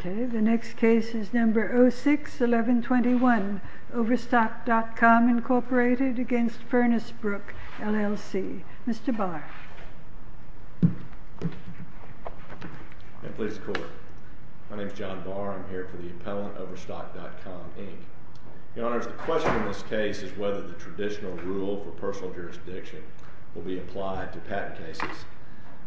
Okay, the next case is number 06-1121, Overstock.com incorporated against Furnace Brook, LLC. Mr. Barr. And please, the Court. My name is John Barr. I'm here for the appellant, Overstock.com, Inc. Your Honors, the question in this case is whether the traditional rule for personal jurisdiction will be applied to patent cases.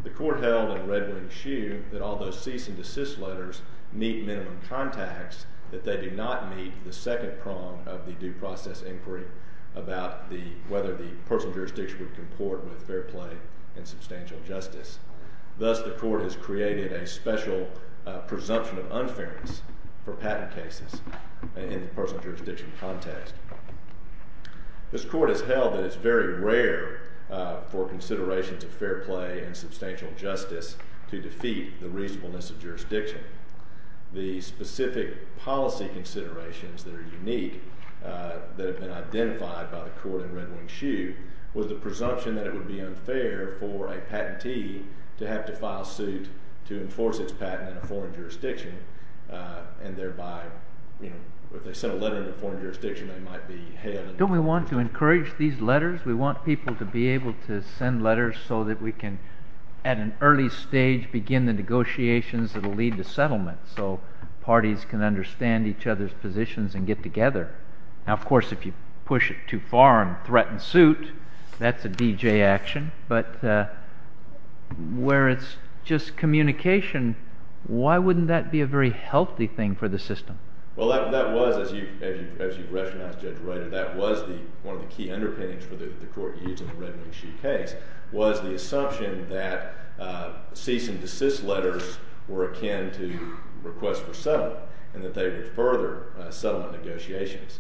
The Court held in Red Wing's shoe that although cease and desist letters meet minimum contacts, that they do not meet the second prong of the due process inquiry about whether the Thank you, Your Honor. Thank you, Your Honor. Thank you, Your Honor. Thank you, Your Honor. Thank you, Your Honor. plea and substantial justice. Thus, the Court has created a special presumption of unfairness for patent cases in the personal jurisdiction context. This Court has held that it is very rare for considerations of fair play and substantial justice to defeat the reasonableness of jurisdiction. The specific policy considerations that are unique that have been identified by the Court in Red Wing Shoe was the presumption that it would be unfair for a patentee to have to file suit to enforce its patent in a foreign jurisdiction, and thereby, you know, if they send a letter in a foreign jurisdiction, they might be held in a foreign jurisdiction. Don't we want to encourage these letters? We want people to be able to send letters so that we can, at an early stage, begin the negotiations that will lead to settlement, so parties can understand each other's positions and get together. Now, of course, if you push it too far and threaten suit, that's a D.J. action, but where it's just communication, why wouldn't that be a very healthy thing for the system? Well, that was, as you've rationalized, Judge Reiter, that was one of the key underpinnings for the Court using the Red Wing Shoe case, was the assumption that cease and desist letters were akin to requests for settlement, and that they would further settlement negotiations.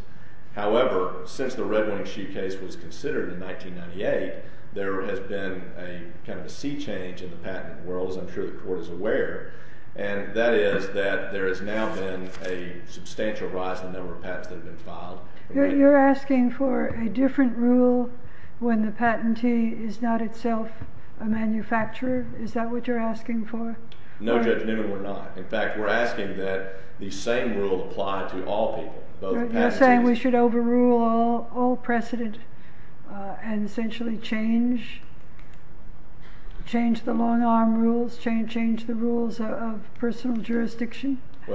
However, since the Red Wing Shoe case was considered in 1998, there has been a kind of a sea change in the patent world, as I'm sure the Court is aware, and that is that there has now been a substantial rise in the number of patents that have been filed. You're asking for a different rule when the patentee is not itself a manufacturer? Is that what you're asking for? No, Judge Newman, we're not. In fact, we're asking that the same rule apply to all people. You're saying we should overrule all precedent and essentially change the long-arm rules, change the rules of personal jurisdiction in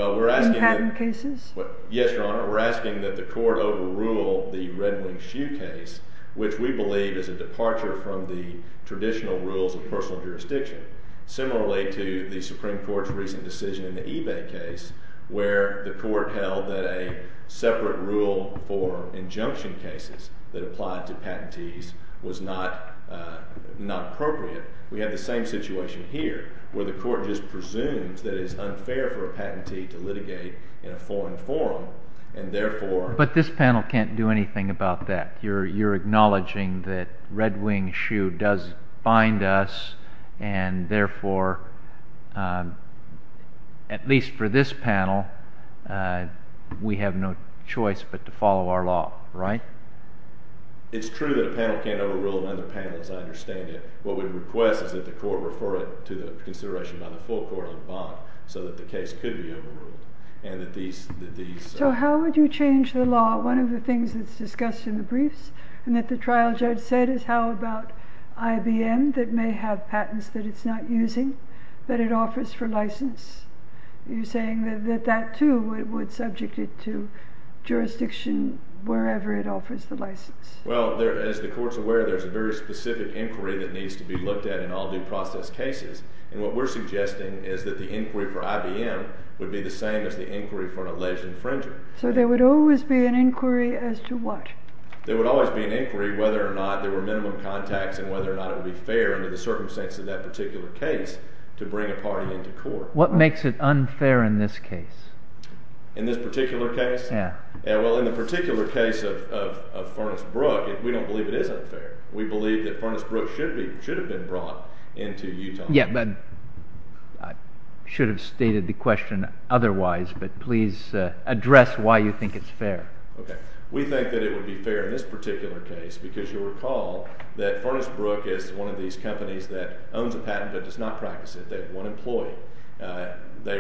patent cases? Yes, Your Honor. We're asking that the Court overrule the Red Wing Shoe case, which we believe is a departure from the traditional rules of personal jurisdiction, similarly to the Supreme Court's recent decision in the eBay case, where the Court held that a separate rule for injunction cases that applied to patentees was not appropriate. We have the same situation here, where the Court just presumes that it is unfair for a patentee to litigate in a foreign forum, and therefore— But this panel can't do anything about that. You're acknowledging that Red Wing Shoe does bind us, and therefore, at least for this panel, we have no choice but to follow our law, right? It's true that a panel can't overrule another panel, as I understand it. What we request is that the Court refer it to the consideration by the full court on bond, so that the case could be overruled, and that these— So how would you change the law? One of the things that's discussed in the briefs, and that the trial judge said, is how about IBM, that may have patents that it's not using, that it offers for license? You're saying that that, too, would subject it to jurisdiction wherever it offers the license? Well, as the Court's aware, there's a very specific inquiry that needs to be looked at in all due process cases, and what we're suggesting is that the inquiry for IBM would be the same as the inquiry for an alleged infringer. So there would always be an inquiry as to what? There would always be an inquiry whether or not there were minimum contacts, and whether or not it would be fair, under the circumstances of that particular case, to bring a party into court. What makes it unfair in this case? In this particular case? Yeah. Well, in the particular case of Furnace Brook, we don't believe it is unfair. We believe that Furnace Brook should have been brought into Utah. Yeah, but I should have stated the question otherwise, but please address why you think it's fair. Okay. We think that it would be fair in this particular case, because you'll recall that Furnace Brook is one of these companies that owns a patent but does not practice it. They have one employee. They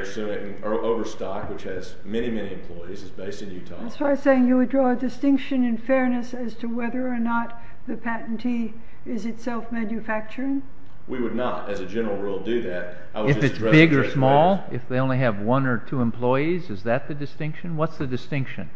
are overstocked, which has many, many employees, is based in Utah. As far as saying you would draw a distinction in fairness as to whether or not the patentee is itself manufacturing? We would not, as a general rule, do that. If it's big or small? If they only have one or two employees? Is that the distinction? What's the distinction?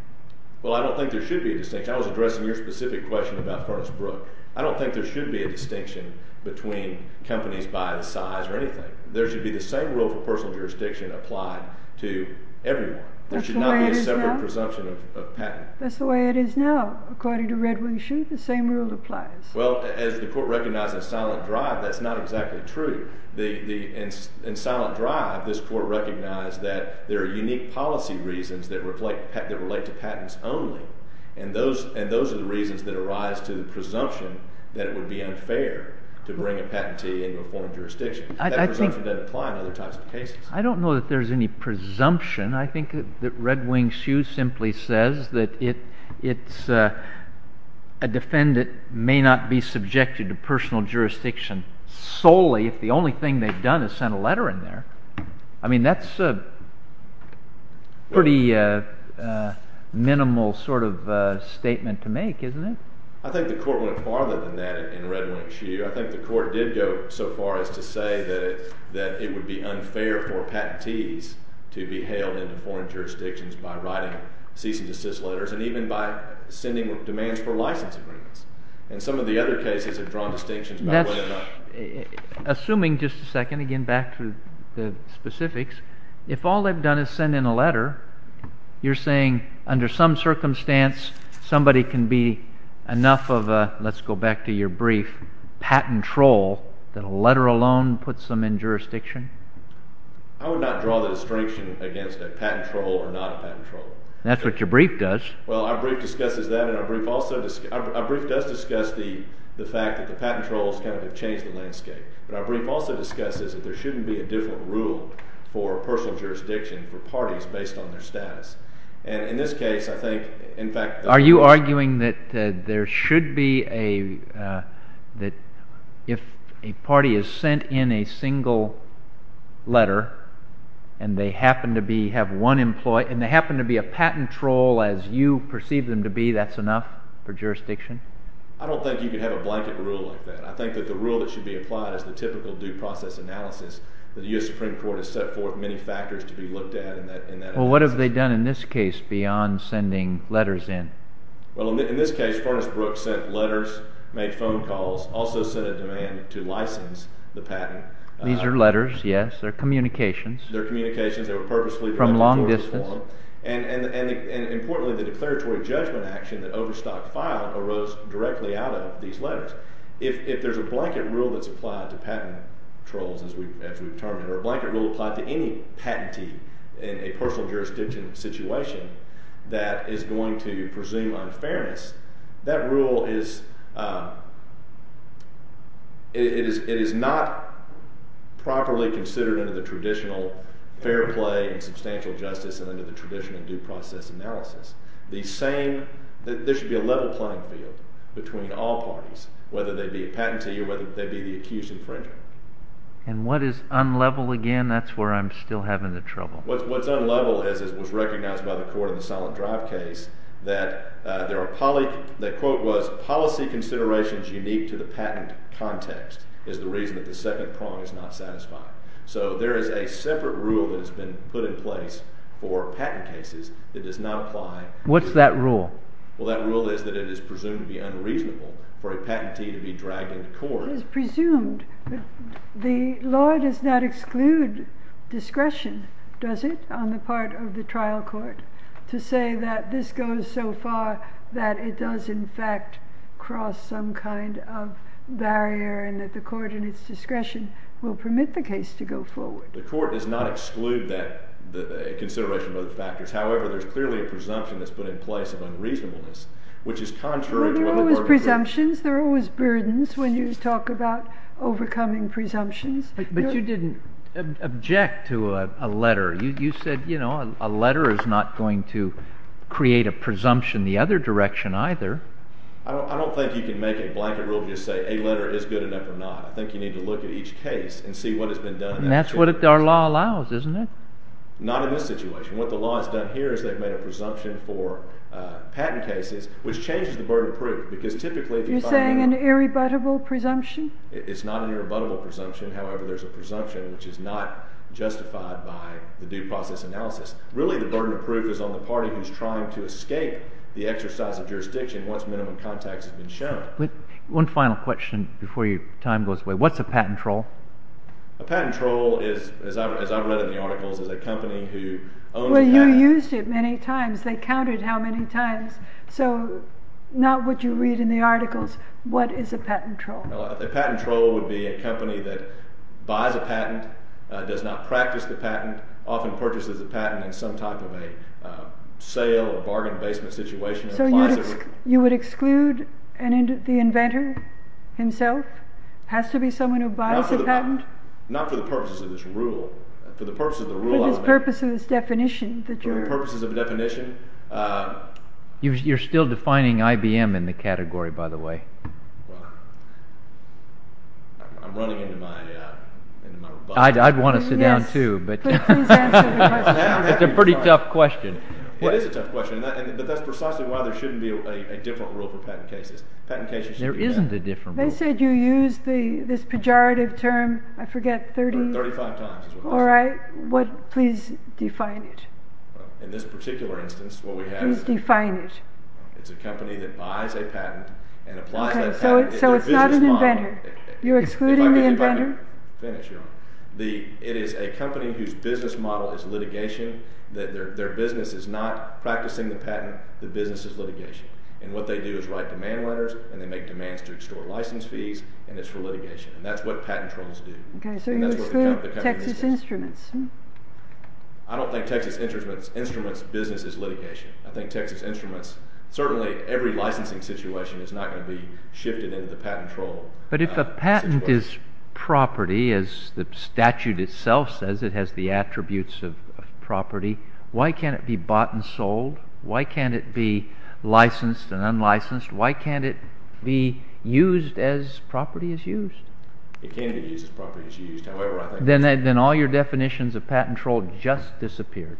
Well, I don't think there should be a distinction. I was addressing your specific question about Furnace Brook. I don't think there should be a distinction between companies by the size or anything. There should be the same rule for personal jurisdiction applied to everyone. There should not be a separate presumption of patent. That's the way it is now. According to Red Wing Shoot, the same rule applies. Well, as the court recognized in Silent Drive, that's not exactly true. In Silent Drive, this court recognized that there are unique policy reasons that relate to patents only, and those are the reasons that arise to the presumption that it would be unfair to bring a patentee into a foreign jurisdiction. That presumption doesn't apply in other types of cases. I don't know that there's any presumption. I think that Red Wing Shoot simply says that a defendant may not be subjected to personal jurisdiction solely if the only thing they've done is send a letter in there. I mean, that's a pretty minimal sort of statement to make, isn't it? I think the court went farther than that in Red Wing Shoot. I think the court did go so far as to say that it would be unfair for patentees to be brought into foreign jurisdictions by writing cease and desist letters and even by sending demands for license agreements. And some of the other cases have drawn distinctions about whether or not— Assuming, just a second, again back to the specifics, if all they've done is send in a letter, you're saying under some circumstance, somebody can be enough of a, let's go back to your brief, patent troll, that a letter alone puts them in jurisdiction? I would not draw the distinction against a patent troll or not a patent troll. That's what your brief does. Well, our brief discusses that, and our brief does discuss the fact that the patent trolls kind of have changed the landscape. But our brief also discusses that there shouldn't be a different rule for personal jurisdiction for parties based on their status. And in this case, I think, in fact— Are you arguing that there should be a, that if a party is sent in a single letter and they happen to be, have one employee, and they happen to be a patent troll as you perceive them to be, that's enough for jurisdiction? I don't think you could have a blanket rule like that. I think that the rule that should be applied is the typical due process analysis that the U.S. Supreme Court has set forth many factors to be looked at in that analysis. What have they done in this case beyond sending letters in? Well, in this case, Farnes-Brooks sent letters, made phone calls, also sent a demand to license the patent. These are letters, yes. They're communications. They're communications. They were purposely— From long distance. And importantly, the declaratory judgment action that Overstock filed arose directly out of these letters. If there's a blanket rule that's applied to patent trolls, as we've termed it, or a blanket rule applied to any patentee in a personal jurisdiction situation that is going to presume unfairness, that rule is— it is not properly considered under the traditional fair play and substantial justice and under the traditional due process analysis. The same—there should be a level playing field between all parties, whether they be a patentee or whether they be the accused infringer. And what is unlevel again? That's where I'm still having the trouble. What's unlevel is it was recognized by the court in the Silent Drive case that there are—the quote was, policy considerations unique to the patent context is the reason that the second prong is not satisfied. So there is a separate rule that has been put in place for patent cases that does not apply— What's that rule? Well, that rule is that it is presumed to be unreasonable for a patentee to be dragged into court— Well, it is presumed. The law does not exclude discretion, does it, on the part of the trial court to say that this goes so far that it does, in fact, cross some kind of barrier and that the court in its discretion will permit the case to go forward. The court does not exclude that— the consideration of other factors. However, there's clearly a presumption that's been put in place of unreasonableness, which is contrary— Well, there are always presumptions. There are always burdens when you talk about overcoming presumptions. But you didn't object to a letter. You said a letter is not going to create a presumption the other direction, either. I don't think you can make a blanket rule and just say a letter is good enough or not. I think you need to look at each case and see what has been done— And that's what our law allows, isn't it? Not in this situation. What the law has done here is they've made a presumption for patent cases, which changes the burden of proof. You're saying an irrebuttable presumption? It's not an irrebuttable presumption. However, there's a presumption which is not justified by the due process analysis. Really, the burden of proof is on the party who's trying to escape the exercise of jurisdiction once minimum context has been shown. One final question before time goes away. What's a patent troll? A patent troll, as I've read in the articles, is a company who— Well, you used it many times. They counted how many times. So, not what you read in the articles. What is a patent troll? A patent troll would be a company that buys a patent, does not practice the patent, often purchases a patent in some type of a sale or bargain basement situation— So you would exclude the inventor himself? Has to be someone who buys a patent? Not for the purposes of this rule. For the purposes of the rule— For the purposes of the definition— You're still defining IBM in the category, by the way. Well, I'm running into my— I'd want to sit down, too, but— It's a pretty tough question. It is a tough question, but that's precisely why there shouldn't be a different rule for patent cases. There isn't a different rule. They said you used this pejorative term, I forget, 30— In this particular instance, what we have is— It's a company that buys a patent and applies that patent— So it's not an inventor? You're excluding the inventor? It is a company whose business model is litigation. Their business is not practicing the patent. The business is litigation. And what they do is write demand letters, and they make demands to extort license fees, and it's for litigation. And that's what patent trolls do. So you exclude Texas Instruments? I don't think Texas Instruments' business is litigation. I think Texas Instruments— Certainly, every licensing situation is not going to be shifted into the patent troll— But if a patent is property, as the statute itself says, it has the attributes of property, why can't it be bought and sold? Why can't it be licensed and unlicensed? Why can't it be used as property is used? It can be used as property is used. Then all your definitions of patent troll just disappeared.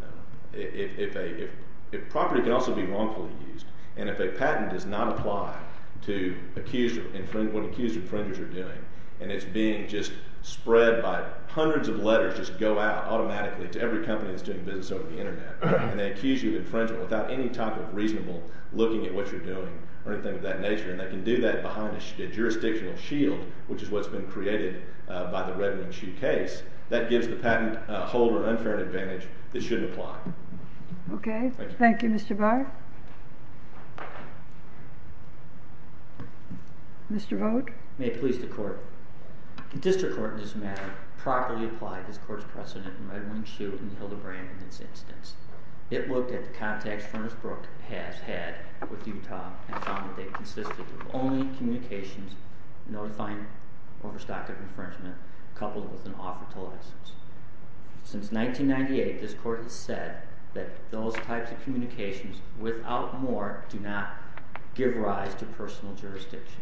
No. Property can also be wrongfully used. And if a patent does not apply to what accused infringers are doing, and it's being just spread by hundreds of letters just go out automatically to every company that's doing business over the internet, and they accuse you of infringement without any type of reasonable looking at what you're doing or anything of that nature, and they can do that behind a jurisdictional shield, which is what's been created by the Red Wing Chu case, that gives the patent holder an unfair advantage that shouldn't apply. Okay. Thank you, Mr. Barr. Mr. Vogt. May it please the Court. The District Court in this matter properly applied this Court's precedent in Red Wing Chu and Hildebrand in this instance. It looked at the contacts Ernest Brooke has had with Utah and found that they consisted of only communications notifying overstock of infringement coupled with an offer to license. Since 1998, this Court has said that those types of communications, without more, do not give rise to personal jurisdiction.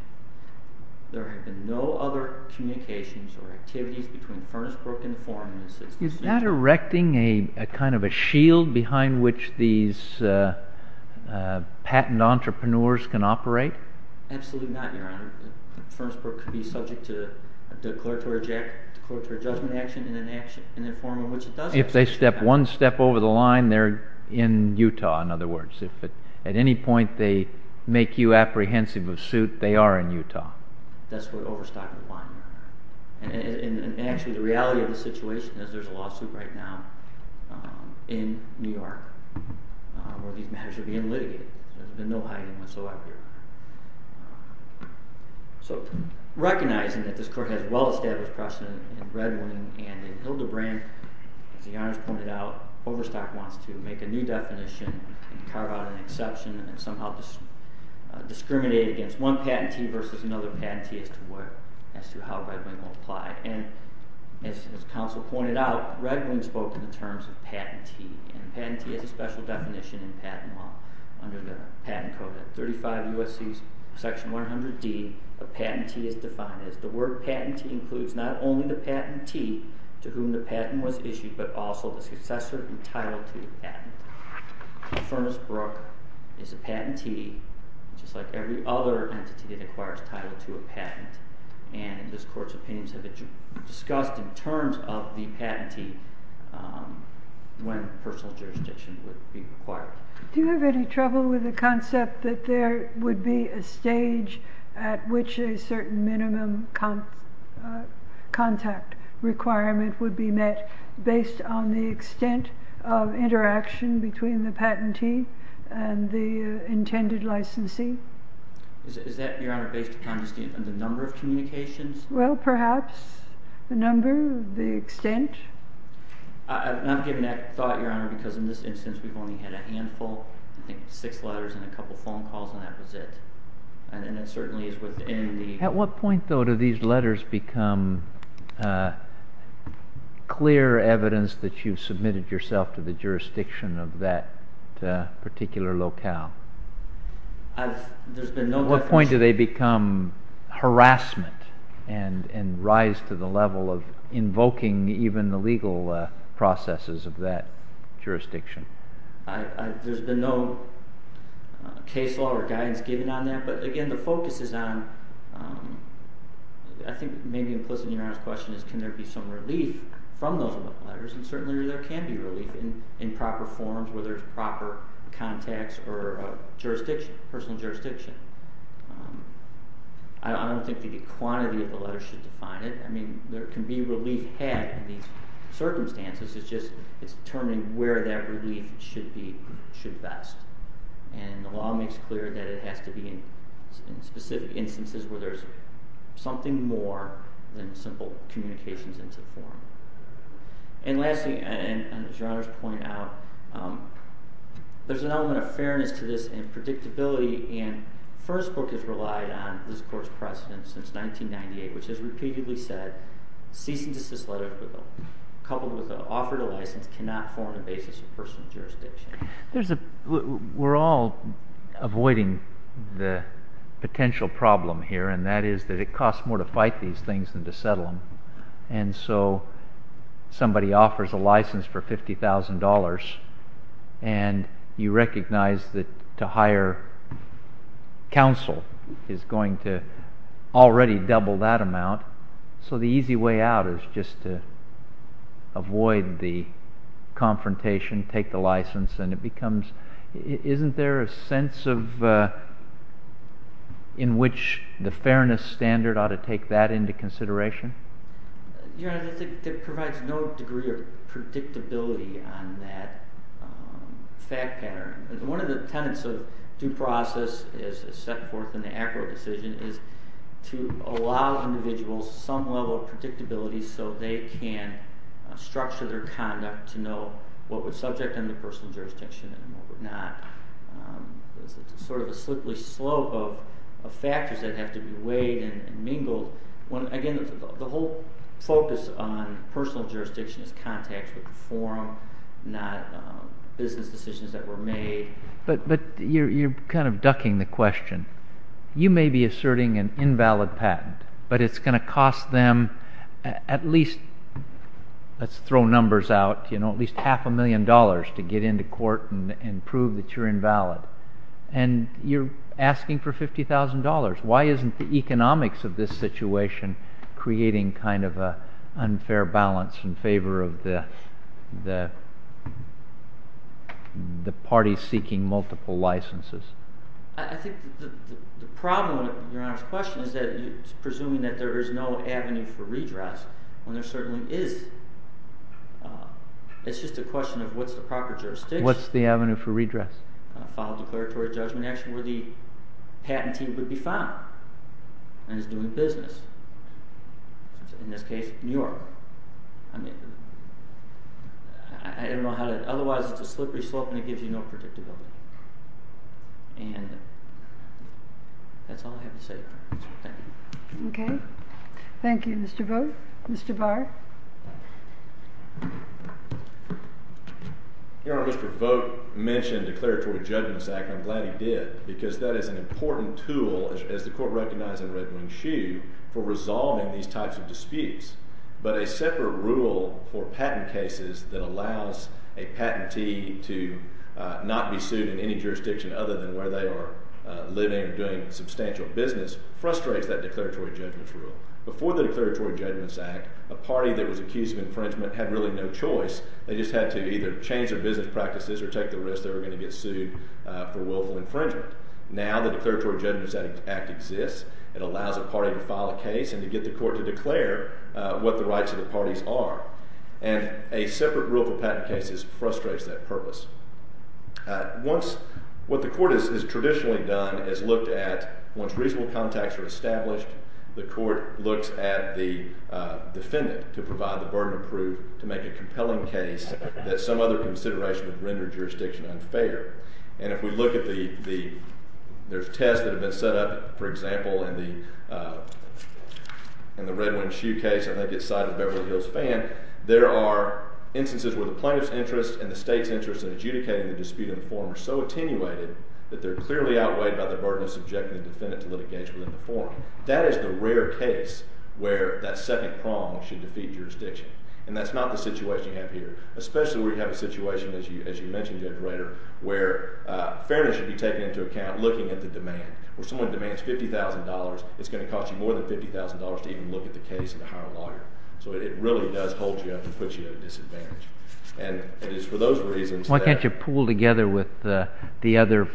There have been no other communications or activities between Ernest Brooke and the forum in this instance. Is that erecting a kind of a shield behind which these patent entrepreneurs can operate? Absolutely not, Your Honor. Ernest Brooke could be subject to a declaratory judgment action in the form of which it does exist. If they step one step over the line, they're in Utah, in other words. If at any point they make you apprehensive of suit, they are in Utah. That's what overstock would find. And actually, the reality of the situation is there's a lawsuit right now in New York where these matters are being litigated. There's been no hiding whatsoever. Recognizing that this Court has well-established precedent in Red Wing and in Hildebrand, as the Honors pointed out, overstock wants to make a new definition and carve out an exception and somehow discriminate against one patentee versus another patentee as to how Red Wing will apply. And as counsel pointed out, Red Wing spoke in the terms of patentee. And patentee has a special definition in patent law under the Patent Code. At 35 U.S.C. Section 100D a patentee is defined as the word patentee includes not only the patentee to whom the patent was issued but also the successor and title to the patent. Ernest Brooke is a patentee just like every other entity that acquires title to a patent. And this Court's opinions have discussed in terms of the when personal jurisdiction would be required. Do you have any trouble with the concept that there would be a stage at which a certain minimum contact requirement would be met based on the extent of interaction between the patentee and the intended licensee? Is that, Your Honor, based upon the number of communications? Well, perhaps the number, the extent. I'm not giving that thought, Your Honor, because in this instance we've only had a handful, I think six letters and a couple phone calls and that was it. And it certainly is within the... At what point, though, do these letters become clear evidence that you've submitted yourself to the jurisdiction of that particular There's been no... What point do they become harassment and rise to the level of invoking even the legal processes of that jurisdiction? There's been no case law or guidance given on that, but again the focus is on I think maybe implicit in Your Honor's question is can there be some relief from those letters, and certainly there can be relief in proper forms where there's proper contacts or jurisdiction, personal jurisdiction. I don't think the quantity of the relief had in these circumstances is just determining where that relief should be best, and the law makes clear that it has to be in specific instances where there's something more than simple communications in some form. And lastly, as Your Honor's pointed out, there's an element of fairness to this and predictability, and the first book has relied on this Court's precedent since 1998, which has repeatedly said cease and desist letters coupled with the offer to license cannot form a basis of personal jurisdiction. We're all avoiding the potential problem here, and that is that it costs more to fight these things than to settle them, and so somebody offers a license for $50,000 and you recognize that to hire counsel is going to already double that amount, so the easy way out is just to avoid the confrontation, take the license, and it becomes, isn't there a sense of in which the fairness standard ought to take that into consideration? Your Honor, I think it provides no degree fact pattern. One of the tenets of due process as set forth in the statute allow individuals some level of predictability so they can structure their conduct to know what would subject them to personal jurisdiction and what would not. Sort of a slippery slope of factors that have to be weighed and mingled. Again, the whole focus on personal jurisdiction is contact with the forum, not business decisions that were made. But you're kind of ducking the question. You may be asserting an invalid patent, but it's going to cost them at least let's throw numbers out, at least half a million dollars to get into court and prove that you're invalid. You're asking for $50,000. Why isn't the economics of this situation creating kind of an unfair balance in favor of the parties seeking multiple licenses? I think the problem with Your Honor's question is that it's presuming that there is no avenue for redress, when there certainly is. It's just a question of what's the proper jurisdiction What's the avenue for redress? File a declaratory judgment action where the patentee would be found and is doing business. In this case, New York. I don't know how to otherwise it's a slippery slope and it gives you no predictability. And that's all I have to say. Thank you. Thank you, Mr. Vogt. Mr. Barr. Your Honor, Mr. Vogt mentioned declaratory judgments act. I'm glad he did, because that is an important tool, as the court recognized in Red Wing Shoe, for resolving these types of disputes. But a separate rule for patent cases that allows a patentee to not be sued in any jurisdiction other than where they are living, doing substantial business, frustrates that declaratory judgments rule. Before the declaratory judgments act, a party that was accused of infringement had really no choice. They just had to either change their business practices or take the risk they were going to get sued for willful infringement. Now the declaratory judgments act exists. It allows a party to file a case and to get the court to declare what the rights of the parties are. And a separate rule for patent cases frustrates that purpose. What the court has traditionally done is looked at, once reasonable contacts are established, the court looks at the defendant to provide the burden of proof to make a compelling case that some other consideration would render jurisdiction unfair. And if we look at the tests that have been set up, for example, in the Red Wing Shoe case, I think it's side of the Beverly Hills Fan, there are instances where the plaintiff's interest and the state's interest in adjudicating the dispute in the forum are so attenuated that they're clearly outweighed by the burden of subjecting the defendant to litigation within the forum. That is the rare case where that second prong should defeat jurisdiction. And that's not the situation you have here. Especially where you have a situation, as you mentioned, Judge Rader, where fairness should be taken into account looking at the demand. When someone demands $50,000, it's going to cost you more than $50,000 to even look at the case and to hire a lawyer. So it really does hold you up and put you at a disadvantage. And it is for those reasons that... Why can't you pool together with the other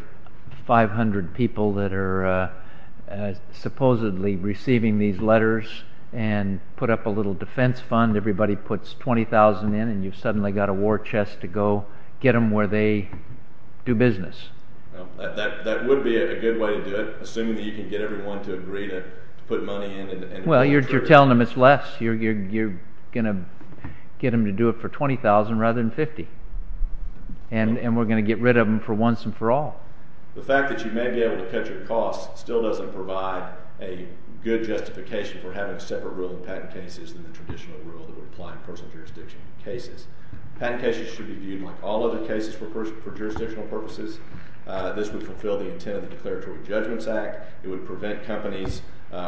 500 people that are supposedly receiving these letters and put up a little defense fund, everybody puts $20,000 in, and you've suddenly got a war chest to go get them where they do business. That would be a good way to do it, assuming that you can get everyone to agree to put money in. Well, you're telling them it's less. You're going to get them to do it for $20,000 rather than $50,000. And we're going to get rid of them for once and for all. The fact that you may be able to cut your costs still doesn't provide a good justification for having a separate rule in patent cases than the traditional rule that would apply in personal jurisdiction cases. Patent cases should be viewed like all other cases for jurisdictional purposes. This would fulfill the intent of the companies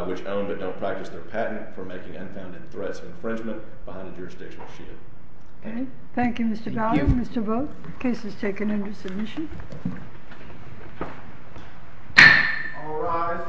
which own but don't practice their patent for making unfounded threats of infringement behind a jurisdictional shield. Thank you, Mr. Gowdy. Mr. Vogt, the case is taken under submission. All rise.